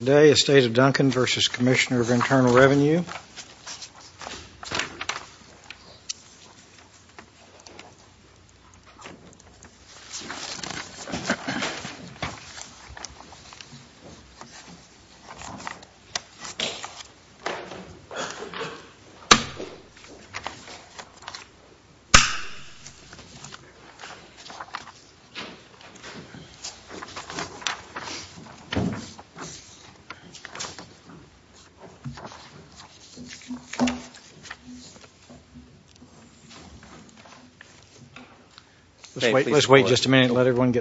Today is State of Duncan v. Commissioner of Internal Revenue. Good morning. My name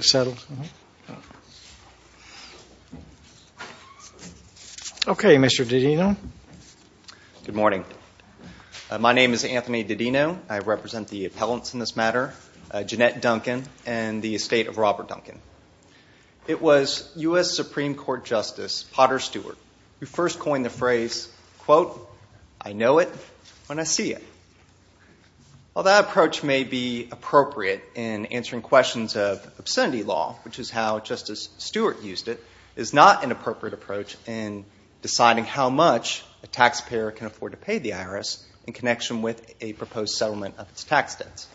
is Anthony Didino. I represent the appellants in this matter, Jeanette Duncan and the estate of Robert Duncan. It was U.S. Supreme Court Justice Potter Stewart who first coined the phrase, quote, I know it when I see it. While that approach may be appropriate in answering questions of obscenity law, which is how Justice Stewart used it, it is not an appropriate approach in deciding how much a taxpayer can afford to pay the IRS in connection with a proposed settlement of its tax debts.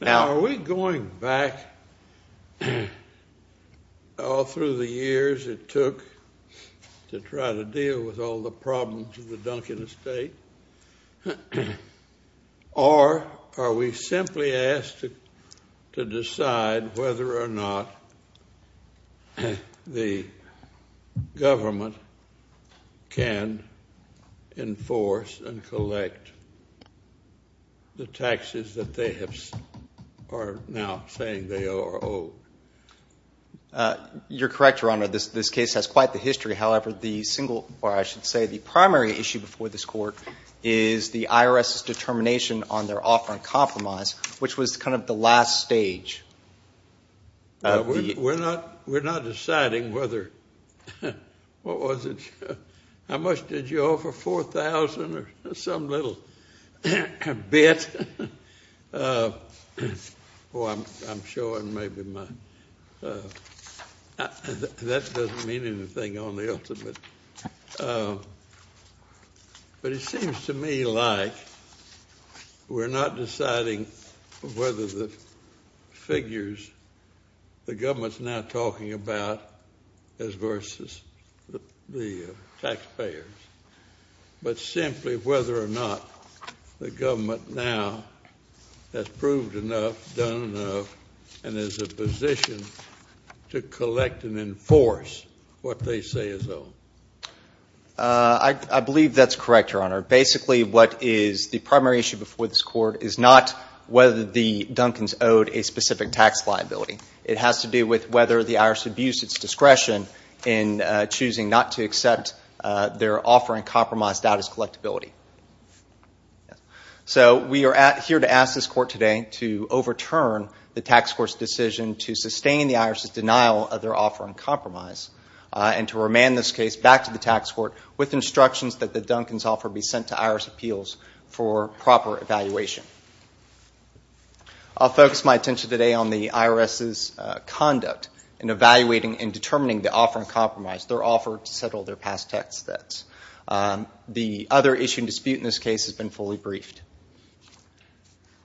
Now, are we going back all through the years it took to try to deal with all the problems of the Duncan estate, or are we simply asked to decide whether or not the government can enforce and collect the taxes that they are now saying they owe or owe? You're correct, Your Honor. This case has quite the history. However, the single, or I should say the primary issue before this Court, is the IRS's determination on their offer and compromise, which was kind of the last stage. We're not deciding whether, what was it, how much did you offer? 4,000 or some little bit? Oh, I'm showing maybe my, that doesn't mean anything on the ultimate. But it seems to me like we're not deciding whether the figures the government's now talking about as versus the taxpayers, but simply whether or not the government now has proved enough, done enough, and is in a position to collect and enforce what they say is owed. I believe that's correct, Your Honor. Basically, what is the primary issue before this Court is not whether the Duncans owed a specific tax liability. It has to do with whether the IRS abused its discretion in choosing not to accept their offer and compromise status collectability. So we are here to ask this Court today to overturn the tax court's decision to sustain the IRS's denial of their offer and compromise, and to remand this case back to the tax court with instructions that the Duncans offer be sent to IRS appeals for proper evaluation. I'll focus my attention today on the IRS's conduct in evaluating and determining the offer and compromise, their offer to settle their past tax debts. The other issue and dispute in this case has been fully briefed.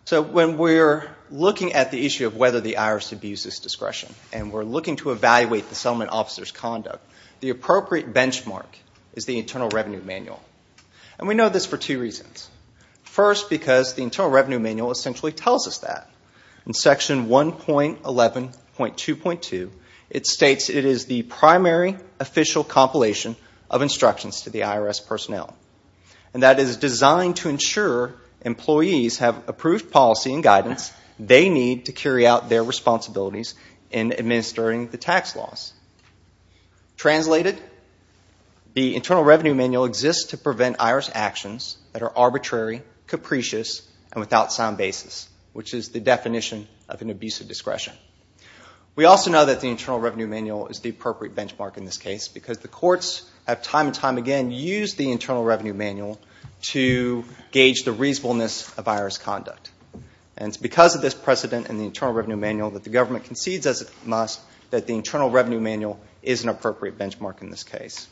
So when we're looking at the issue of whether the IRS abused its discretion and we're looking to evaluate the settlement officer's conduct, the appropriate benchmark is the Internal Revenue Manual. And we know this for two reasons. First, because the Internal Revenue Manual essentially tells us that. In Section 1.11.2.2, it states it is the primary official compilation of instructions to the IRS personnel. And that it is designed to ensure employees have approved policy and guidance they need to carry out their responsibilities in administering the tax laws. Translated, the Internal Revenue Manual exists to prevent IRS actions that are arbitrary, capricious, and without sound basis, which is the definition of an abuse of discretion. We also know that the Internal Revenue Manual is the appropriate benchmark in this case because the courts have time and time again used the Internal Revenue Manual to gauge the reasonableness of IRS conduct. And it's because of this precedent in the Internal Revenue Manual that the government concedes as it must that the Internal Revenue Manual is an appropriate benchmark in this case.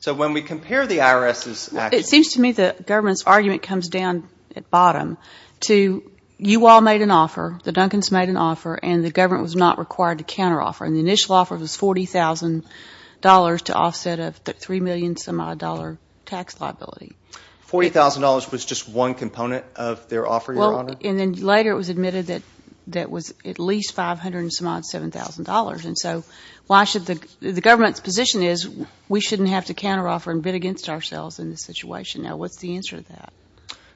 So when we compare the IRS's actions... It seems to me the government's argument comes down at bottom to, you all made an offer, the Duncans made an offer, and the government was not required to counteroffer. And the initial offer was $40,000 to offset a $3 million-some-odd tax liability. $40,000 was just one component of their offer, Your Honor? And then later it was admitted that it was at least $500-some-odd, $7,000. And so the government's position is we shouldn't have to counteroffer and bid against ourselves in this situation. Now, what's the answer to that?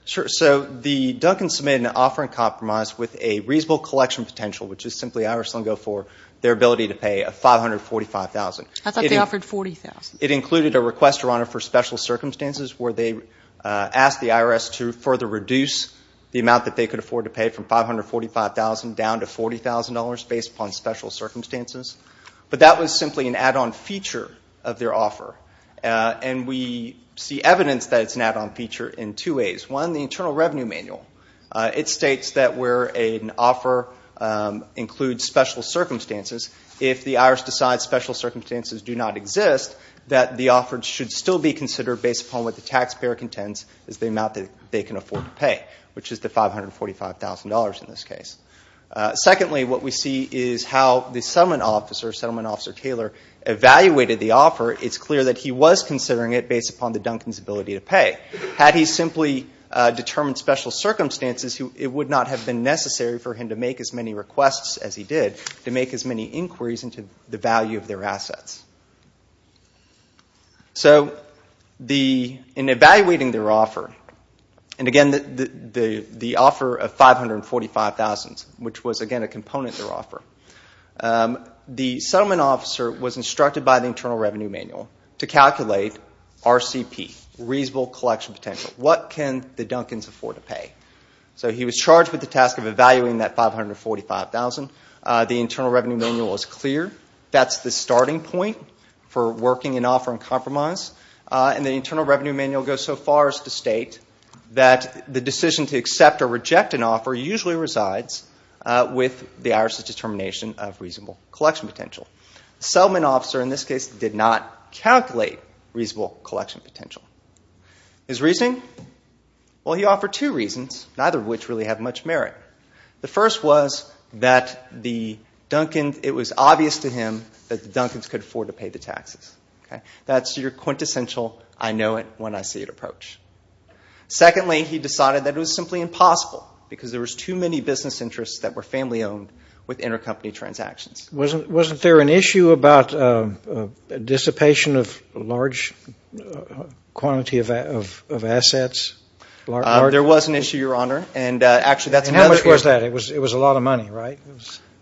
So the Duncans submitted an offer in compromise with a reasonable collection potential, which is simply IRS lingo for their ability to pay $545,000. I thought they offered $40,000. It included a request, Your Honor, for special circumstances where they asked the IRS to further reduce the amount that they could afford to pay from $545,000 down to $40,000 based upon special circumstances. But that was simply an add-on feature of their offer. And we see evidence that it's an add-on feature in two ways. One, the Internal Revenue Manual. It states that where an offer includes special circumstances, if the IRS decides special circumstances do not exist, that the offer should still be considered based upon what the taxpayer contends is the amount that they can afford to pay, which is the $545,000 in this case. Secondly, what we see is how the settlement officer, Settlement Officer Taylor, evaluated the offer. It's clear that he was considering it based upon the Duncans' ability to pay. Had he simply determined special circumstances, it would not have been necessary for him to make as many requests as he did to make as many inquiries into the value of their assets. So in evaluating their offer, and again the offer of $545,000, which was again a component of their offer, the settlement officer was instructed by the Internal Revenue Manual to calculate RCP, Reasonable Collection Potential. What can the Duncans afford to pay? So he was charged with the task of evaluating that $545,000. The Internal Revenue Manual is clear. That's the starting point for working an offer in compromise. And the Internal Revenue Manual goes so far as to state that the decision to accept or reject an offer usually resides with the IRS's determination of Reasonable Collection Potential. The settlement officer in this case did not calculate Reasonable Collection Potential. His reasoning? Well, he offered two reasons, neither of which really have much merit. The first was that it was obvious to him that the Duncans could afford to pay the taxes. That's your quintessential I-know-it-when-I-see-it approach. Secondly, he decided that it was simply impossible because there were too many business interests that were family-owned with intercompany transactions. Wasn't there an issue about dissipation of large quantity of assets? There was an issue, Your Honor, and actually that's another issue. And how much was that? It was a lot of money, right?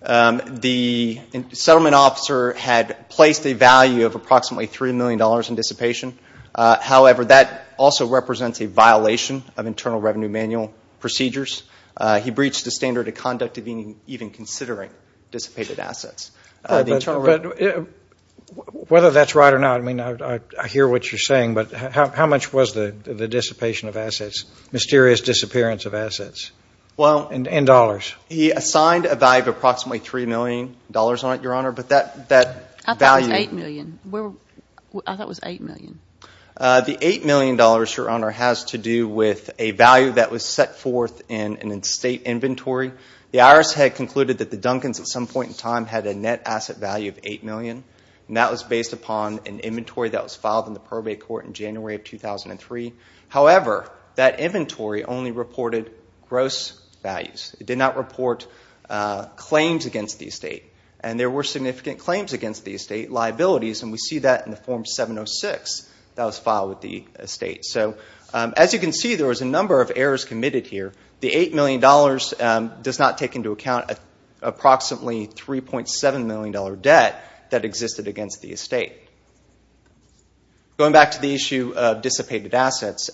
The settlement officer had placed a value of approximately $3 million in dissipation. However, that also represents a violation of Internal Revenue Manual procedures. He breached the standard of conduct of even considering dissipated assets. But whether that's right or not, I mean, I hear what you're saying, but how much was the dissipation of assets, mysterious disappearance of assets? And dollars. He assigned a value of approximately $3 million on it, Your Honor, but that value. I thought it was $8 million. The $8 million, Your Honor, has to do with a value that was set forth in an estate inventory. The IRS had concluded that the Duncans at some point in time had a net asset value of $8 million, and that was based upon an inventory that was filed in the probate court in January of 2003. However, that inventory only reported gross values. It did not report claims against the estate. And there were significant claims against the estate, liabilities, and we see that in the Form 706 that was filed with the estate. So as you can see, there was a number of errors committed here. The $8 million does not take into account approximately $3.7 million debt that existed against the estate. Going back to the issue of dissipated assets,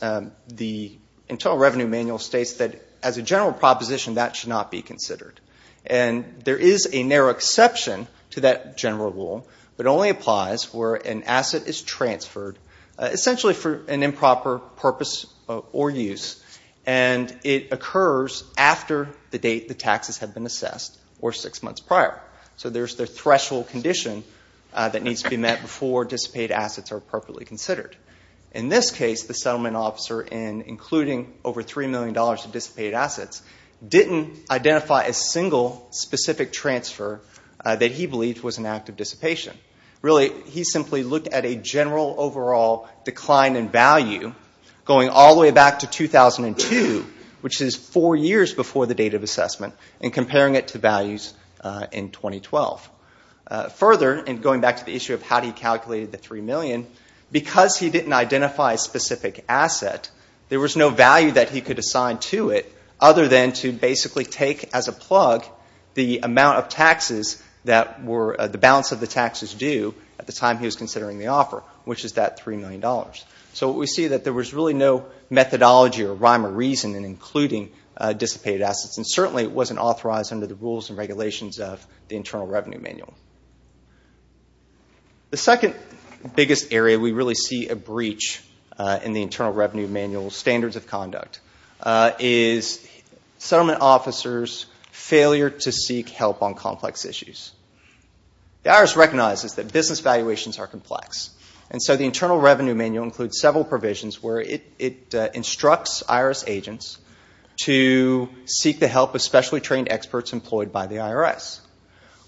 the Internal Revenue Manual states that as a general proposition, that should not be considered. And there is a narrow exception to that general rule, but it only applies where an asset is transferred essentially for an improper purpose or use, and it occurs after the date the taxes have been assessed or six months prior. So there's the threshold condition that needs to be met before dissipated assets are appropriately considered. In this case, the settlement officer, in including over $3 million of dissipated assets, didn't identify a single specific transfer that he believed was an act of dissipation. Really, he simply looked at a general overall decline in value going all the way back to 2002, which is four years before the date of assessment, and comparing it to values in 2012. Further, and going back to the issue of how he calculated the $3 million, because he didn't identify a specific asset, there was no value that he could assign to it other than to basically take as a plug the amount of taxes that were the balance of the taxes due at the time he was considering the offer, which is that $3 million. So we see that there was really no methodology or rhyme or reason in including dissipated assets, and certainly it wasn't authorized under the rules and regulations of the Internal Revenue Manual. The second biggest area we really see a breach in the Internal Revenue Manual standards of conduct is settlement officers' failure to seek help on complex issues. The IRS recognizes that business valuations are complex, and so the Internal Revenue Manual includes several provisions where it instructs IRS agents to seek the help of specially trained experts employed by the IRS,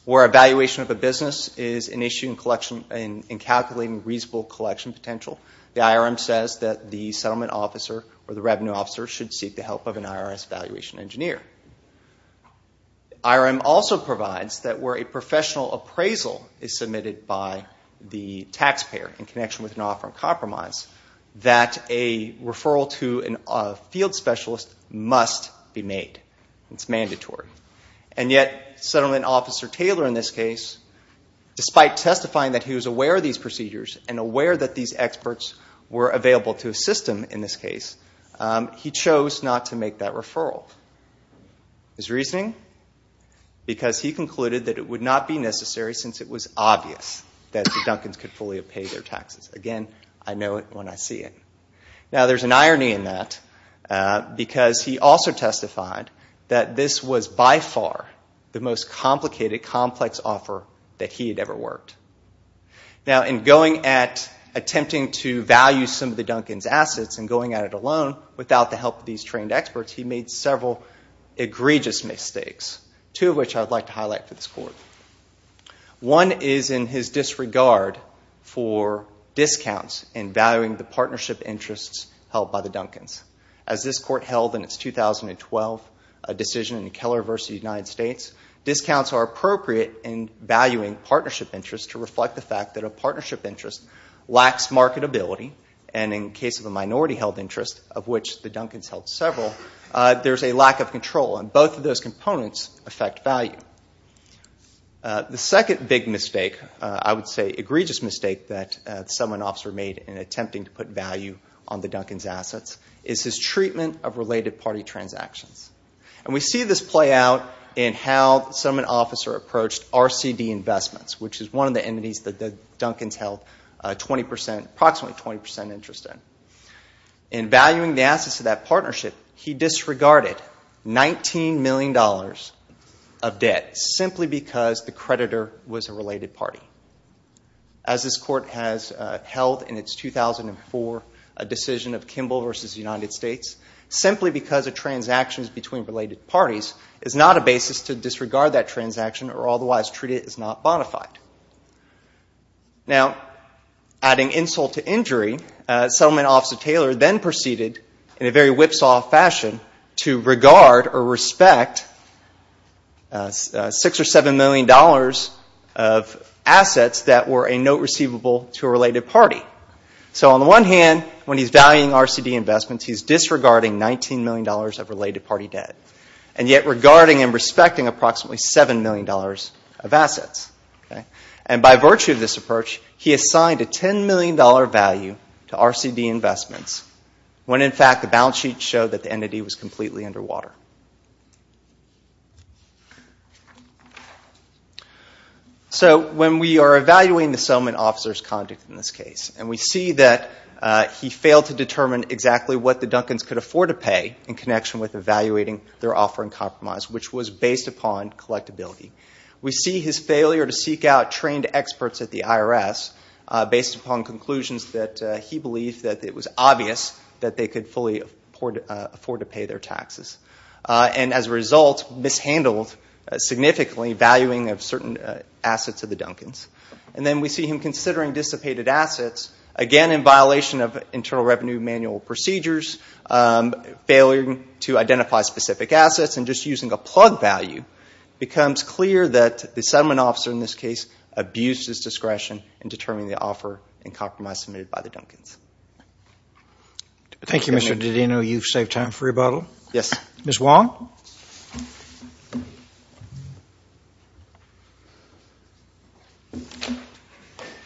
where a valuation of a business is an issue in calculating reasonable collection potential. The IRM says that the settlement officer or the revenue officer should seek the help of an IRS valuation engineer. The IRM also provides that where a professional appraisal is submitted by the taxpayer in connection with an offer of compromise, that a referral to a field specialist must be made. It's mandatory. And yet Settlement Officer Taylor in this case, despite testifying that he was aware of these procedures and aware that these experts were available to assist him in this case, he chose not to make that referral. His reasoning? Because he concluded that it would not be necessary since it was obvious that the Duncans could fully pay their taxes. Again, I know it when I see it. Now, there's an irony in that because he also testified that this was by far the most complicated, complex offer that he had ever worked. Now, in going at attempting to value some of the Duncans' assets and going at it alone without the help of these trained experts, he made several egregious mistakes, two of which I would like to highlight for this board. One is in his disregard for discounts in valuing the partnership interests held by the Duncans. As this court held in its 2012 decision in Keller v. United States, discounts are appropriate in valuing partnership interests to reflect the fact that a partnership interest lacks marketability, and in the case of a minority-held interest, of which the Duncans held several, there's a lack of control, and both of those components affect value. The second big mistake, I would say egregious mistake, that the settlement officer made in attempting to put value on the Duncans' assets is his treatment of related party transactions. We see this play out in how the settlement officer approached RCD investments, which is one of the entities that the Duncans held approximately 20% interest in. In valuing the assets of that partnership, he disregarded $19 million of debt simply because the creditor was a related party. As this court has held in its 2004 decision of Kimball v. United States, simply because of transactions between related parties is not a basis to disregard that transaction, or otherwise treat it as not bona fide. Now, adding insult to injury, the settlement officer Taylor then proceeded in a very whipsaw fashion to regard or respect $6 or $7 million of assets that were a note receivable to a related party. So on the one hand, when he's valuing RCD investments, he's disregarding $19 million of related party debt, and yet regarding and respecting approximately $7 million of assets. And by virtue of this approach, he assigned a $10 million value to RCD investments, when in fact the balance sheet showed that the entity was completely underwater. So when we are evaluating the settlement officer's conduct in this case, and we see that he failed to determine exactly what the Duncans could afford to pay in connection with evaluating their offering compromise, which was based upon collectability. We see his failure to seek out trained experts at the IRS based upon conclusions that he believed that it was obvious that they could fully afford to pay their taxes. And as a result, mishandled significantly valuing of certain assets of the Duncans. And then we see him considering dissipated assets, again in violation of Internal Revenue Manual procedures, failing to identify specific assets, and just using a plug value, it becomes clear that the settlement officer in this case abused his discretion in determining the offer and compromise submitted by the Duncans. Thank you, Mr. Didino. You've saved time for rebuttal. Yes. Ms. Wong?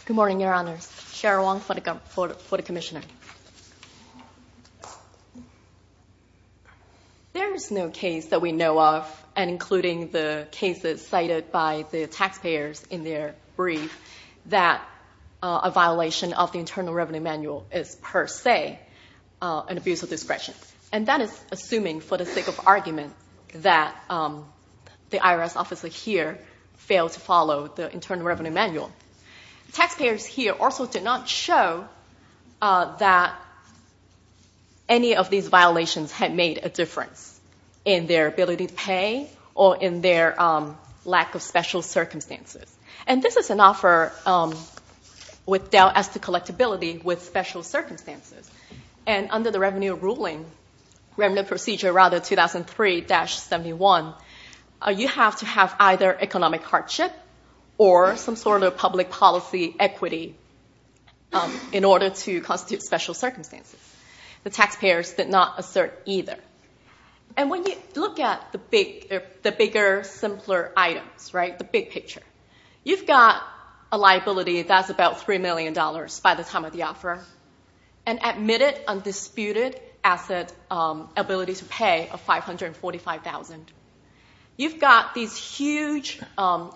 Good morning, Your Honors. Cheryl Wong for the Commissioner. Thank you. There is no case that we know of, and including the cases cited by the taxpayers in their brief, that a violation of the Internal Revenue Manual is per se an abuse of discretion. And that is assuming, for the sake of argument, that the IRS officer here failed to follow the Internal Revenue Manual. Taxpayers here also did not show that any of these violations had made a difference in their ability to pay or in their lack of special circumstances. And this is an offer with dealt as to collectability with special circumstances. And under the Revenue Procedure 2003-71, you have to have either economic hardship or some sort of public policy equity in order to constitute special circumstances. The taxpayers did not assert either. And when you look at the bigger, simpler items, the big picture, you've got a liability that's about $3 million by the time of the offer, and admitted undisputed asset ability to pay of $545,000. You've got these huge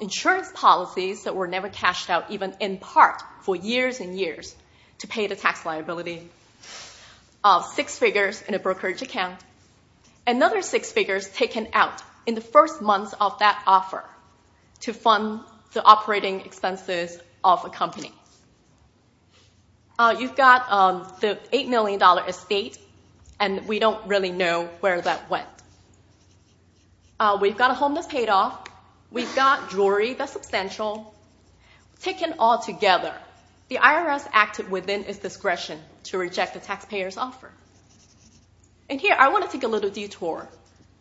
insurance policies that were never cashed out even in part for years and years to pay the tax liability of six figures in a brokerage account, and another six figures taken out in the first months of that offer to fund the operating expenses of a company. You've got the $8 million estate, and we don't really know where that went. We've got a home that's paid off. We've got jewelry that's substantial. Taken all together, the IRS acted within its discretion to reject the taxpayer's offer. And here, I want to take a little detour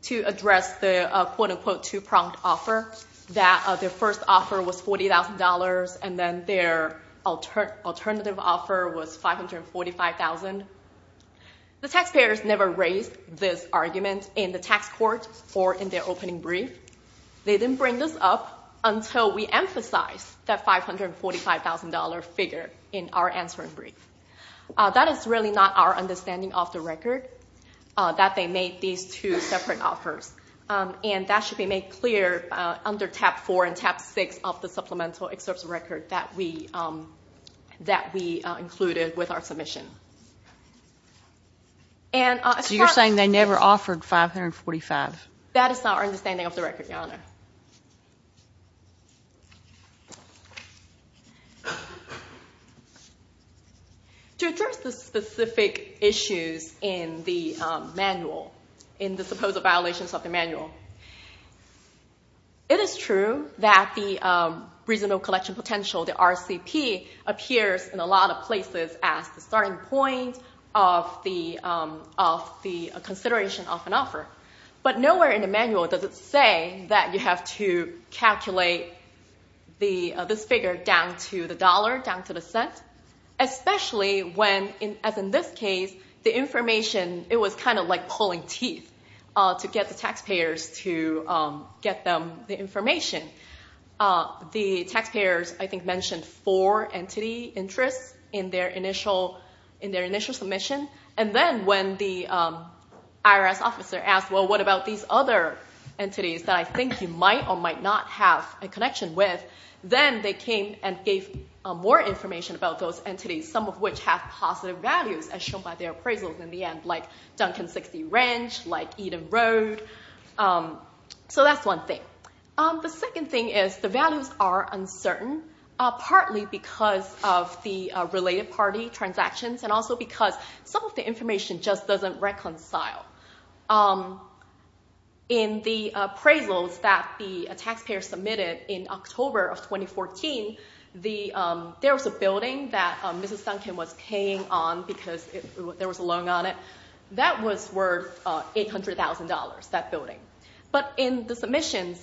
to address the quote-unquote two-pronged offer that their first offer was $40,000, and then their alternative offer was $545,000. The taxpayers never raised this argument in the tax court or in their opening brief. They didn't bring this up until we emphasized that $545,000 figure in our answering brief. That is really not our understanding of the record, that they made these two separate offers. That should be made clear under tab 4 and tab 6 of the supplemental excerpts of record that we included with our submission. So you're saying they never offered $545,000? That is not our understanding of the record, Your Honor. To address the specific issues in the manual, in the supposed violations of the manual, it is true that the reasonable collection potential, the RCP, appears in a lot of places as the starting point of the consideration of an offer. But nowhere in the manual does it say that you have to, you have to calculate this figure down to the dollar, down to the cent, especially when, as in this case, the information, it was kind of like pulling teeth to get the taxpayers to get them the information. The taxpayers, I think, mentioned four entity interests in their initial submission, and then when the IRS officer asked, well, what about these other entities that I think you might or might not have a connection with, then they came and gave more information about those entities, some of which have positive values, as shown by their appraisals in the end, like Duncan 60 Ranch, like Eden Road. So that's one thing. The second thing is the values are uncertain, partly because of the related party transactions and also because some of the information just doesn't reconcile. In the appraisals that the taxpayers submitted in October of 2014, there was a building that Mrs. Duncan was paying on because there was a loan on it. That was worth $800,000, that building. But in the submissions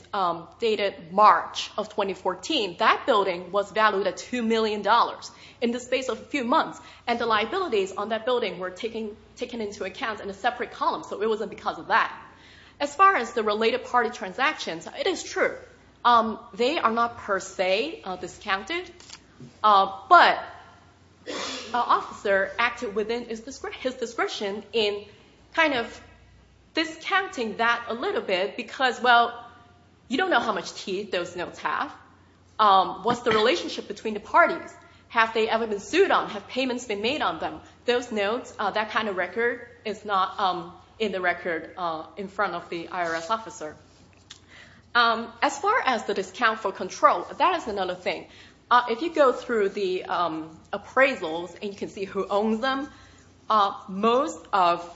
dated March of 2014, that building was valued at $2 million in the space of a few months, and the liabilities on that building were taken into account in a separate column, so it wasn't because of that. As far as the related party transactions, it is true. They are not per se discounted, but an officer acted within his discretion in kind of discounting that a little bit because, well, you don't know how much tea those notes have. What's the relationship between the parties? Have they ever been sued on? Have payments been made on them? Those notes, that kind of record is not in the record in front of the IRS officer. As far as the discount for control, that is another thing. If you go through the appraisals and you can see who owns them, most of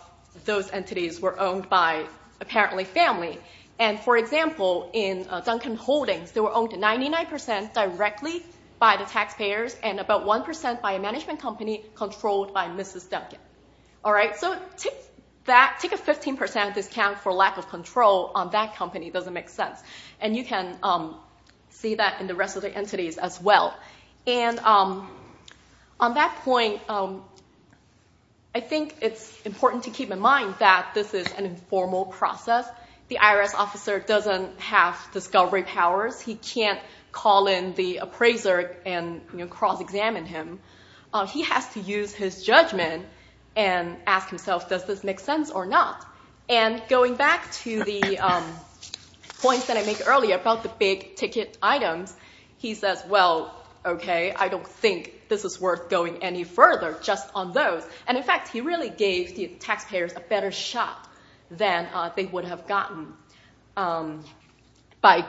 those entities were owned by apparently family. For example, in Duncan Holdings, they were owned 99% directly by the taxpayers and about 1% by a management company controlled by Mrs. Duncan. So take a 15% discount for lack of control on that company. It doesn't make sense. You can see that in the rest of the entities as well. On that point, I think it's important to keep in mind that this is an informal process. Because the IRS officer doesn't have discovery powers, he can't call in the appraiser and cross-examine him. He has to use his judgment and ask himself, does this make sense or not? And going back to the points that I made earlier about the big ticket items, he says, well, okay, I don't think this is worth going any further just on those. And in fact, he really gave the taxpayers a better shot than they would have gotten by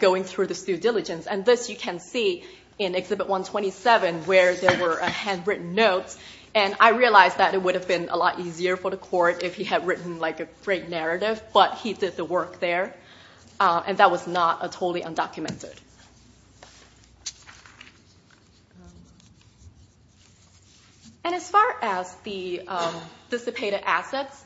going through this due diligence. And this you can see in Exhibit 127 where there were handwritten notes. And I realized that it would have been a lot easier for the court if he had written a great narrative, but he did the work there. And that was not totally undocumented. And as far as the dissipated assets,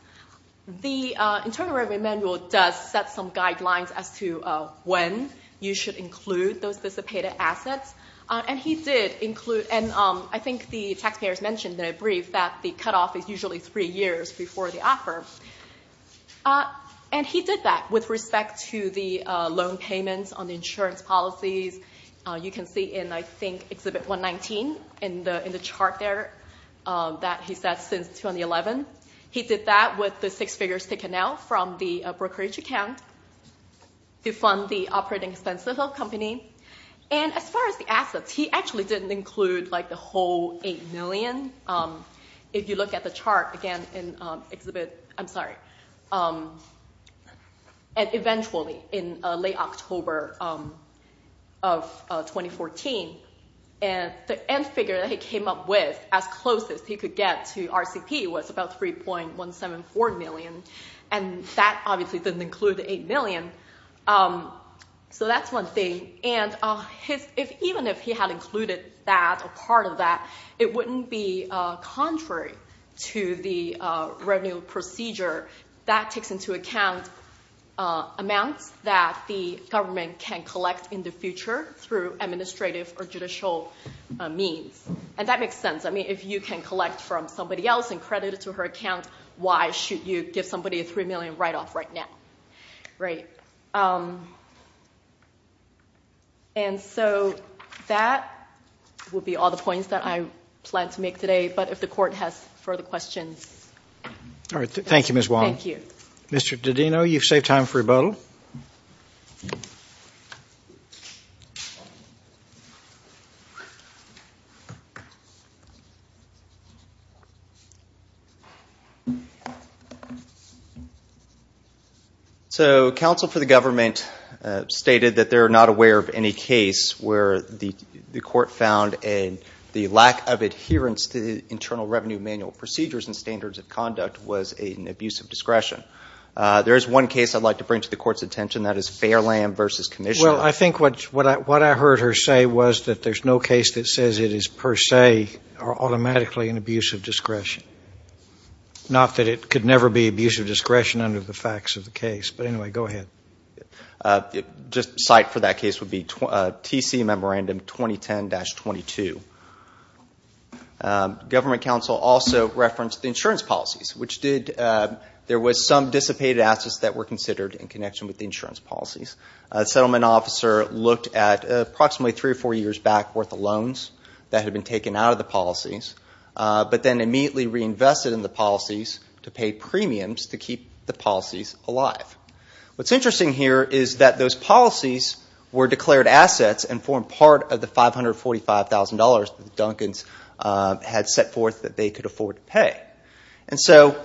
the Internal Revenue Manual does set some guidelines as to when you should include those dissipated assets. And he did include, and I think the taxpayers mentioned in a brief that the cutoff is usually three years before the offer. And he did that with respect to the loan payments on the insurance policy. You can see in, I think, Exhibit 119 in the chart there that he set since 2011. He did that with the six figures taken out from the brokerage account to fund the operating expenses of the company. And as far as the assets, he actually didn't include the whole $8 million. If you look at the chart again in Exhibit, I'm sorry, and eventually in late October of 2014, the end figure that he came up with as close as he could get to RCP was about $3.174 million, and that obviously didn't include the $8 million. So that's one thing. And even if he had included that or part of that, it wouldn't be contrary to the revenue procedure. That takes into account amounts that the government can collect in the future through administrative or judicial means, and that makes sense. I mean, if you can collect from somebody else and credit it to her account, why should you give somebody a $3 million write-off right now? Right. And so that would be all the points that I plan to make today, but if the Court has further questions. All right, thank you, Ms. Wong. Thank you. Mr. Didino, you've saved time for rebuttal. So counsel for the government stated that they're not aware of any case where the Court found the lack of adherence to the Internal Revenue Manual procedures and standards of conduct was an abuse of discretion. There is one case I'd like to bring to the Court's attention, and that is Fairland v. Commissioner. Well, I think what I heard her say was that there's no case that says it is per se or automatically an abuse of discretion, not that it could never be abuse of discretion under the facts of the case. But anyway, go ahead. The site for that case would be TC Memorandum 2010-22. Government counsel also referenced the insurance policies, which there was some dissipated assets that were considered in connection with the insurance policies. A settlement officer looked at approximately three or four years back worth of loans that had been taken out of the policies, but then immediately reinvested in the policies to pay premiums to keep the policies alive. What's interesting here is that those policies were declared assets and formed part of the $545,000 that the Duncans had set forth that they could afford to pay. And so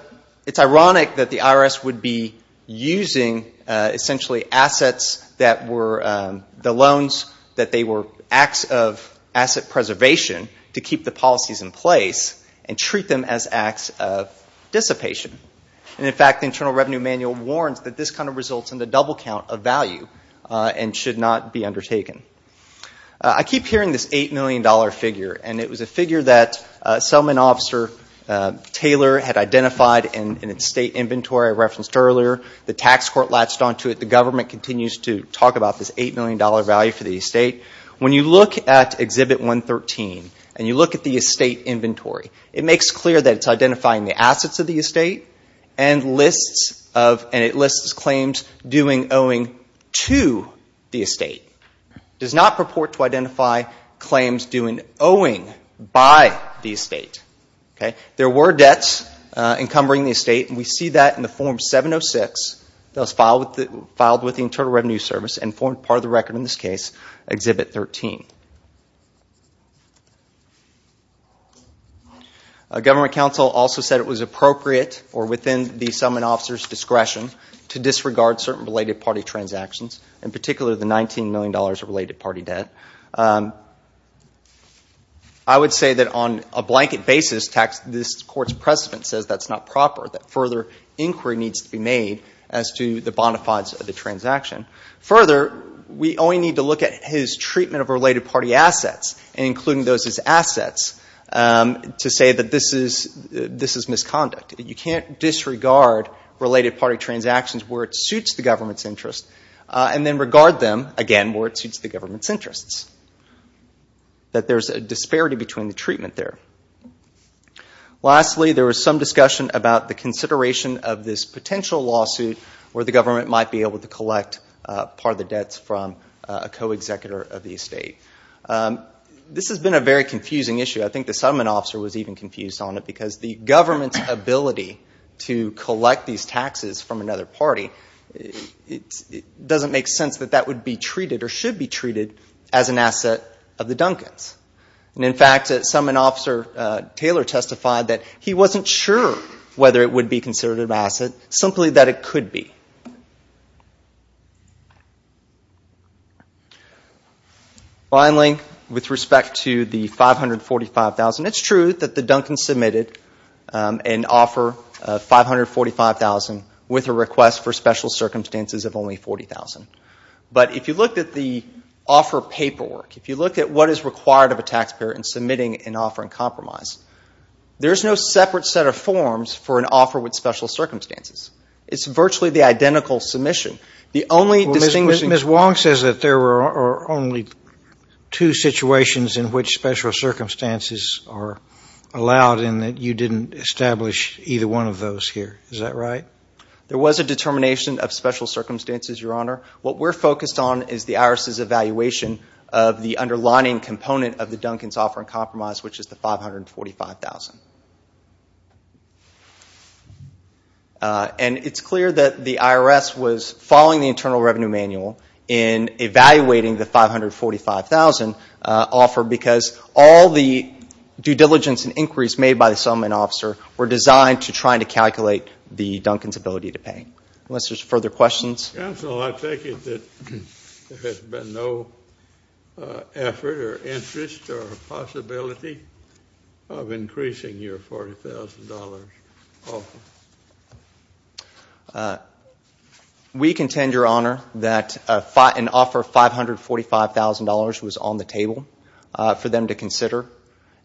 it's ironic that the IRS would be using, essentially, assets that were the loans that they were acts of asset preservation to keep the policies in place and treat them as acts of dissipation. And, in fact, the Internal Revenue Manual warns that this kind of results in the double count of value and should not be undertaken. I keep hearing this $8 million figure, and it was a figure that settlement officer Taylor had identified in its state inventory I referenced earlier. The tax court latched onto it. The government continues to talk about this $8 million value for the estate. When you look at Exhibit 113 and you look at the estate inventory, it makes clear that it's identifying the assets of the estate and it lists claims due and owing to the estate. It does not purport to identify claims due and owing by the estate. There were debts encumbering the estate, and we see that in the Form 706 that was filed with the Internal Revenue Service and formed part of the record in this case, Exhibit 13. Government counsel also said it was appropriate or within the settlement officer's discretion to disregard certain related party transactions, in particular the $19 million of related party debt. I would say that on a blanket basis, this court's precedent says that's not proper, that further inquiry needs to be made as to the bona fides of the transaction. Further, we only need to look at his treatment of related parties and including those as assets to say that this is misconduct. You can't disregard related party transactions where it suits the government's interests and then regard them, again, where it suits the government's interests, that there's a disparity between the treatment there. Lastly, there was some discussion about the consideration of this potential lawsuit where the government might be able to collect part of the debts from a co-executor of the estate. This has been a very confusing issue. I think the settlement officer was even confused on it because the government's ability to collect these taxes from another party, it doesn't make sense that that would be treated or should be treated as an asset of the Duncans. In fact, settlement officer Taylor testified that he wasn't sure whether it would be considered an asset, simply that it could be. Finally, with respect to the $545,000, it's true that the Duncans submitted an offer of $545,000 with a request for special circumstances of only $40,000. But if you looked at the offer paperwork, if you looked at what is required of a taxpayer in submitting an offer in compromise, there's no separate set of forms for an offer with special circumstances. It's virtually the identical submission. Ms. Wong says that there are only two situations in which special circumstances are allowed and that you didn't establish either one of those here. Is that right? There was a determination of special circumstances, Your Honor. What we're focused on is the IRS's evaluation of the underlining component of the Duncans offer in compromise, which is the $545,000. And it's clear that the IRS was following the Internal Revenue Manual in evaluating the $545,000 offer because all the due diligence and inquiries made by the settlement officer were designed to try to calculate the Duncans' ability to pay. Unless there's further questions. Counsel, I take it that there has been no effort in your interest or possibility of increasing your $40,000 offer. We contend, Your Honor, that an offer of $545,000 was on the table for them to consider.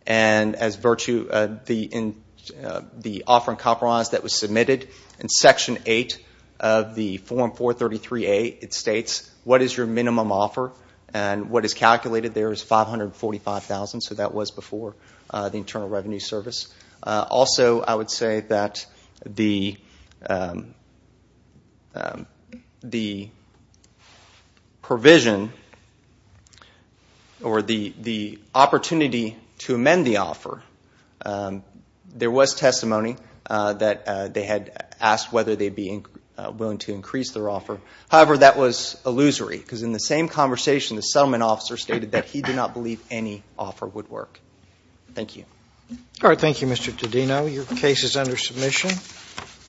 And as virtue of the offer in compromise that was submitted, in Section 8 of the Form 433A, it states, What is your minimum offer? And what is calculated there is $545,000, so that was before the Internal Revenue Service. Also, I would say that the provision or the opportunity to amend the offer, there was testimony that they had asked whether they'd be willing to increase their offer. However, that was illusory because in the same conversation, the settlement officer stated that he did not believe any offer would work. Thank you. All right. Thank you, Mr. Todino. Your case is under submission.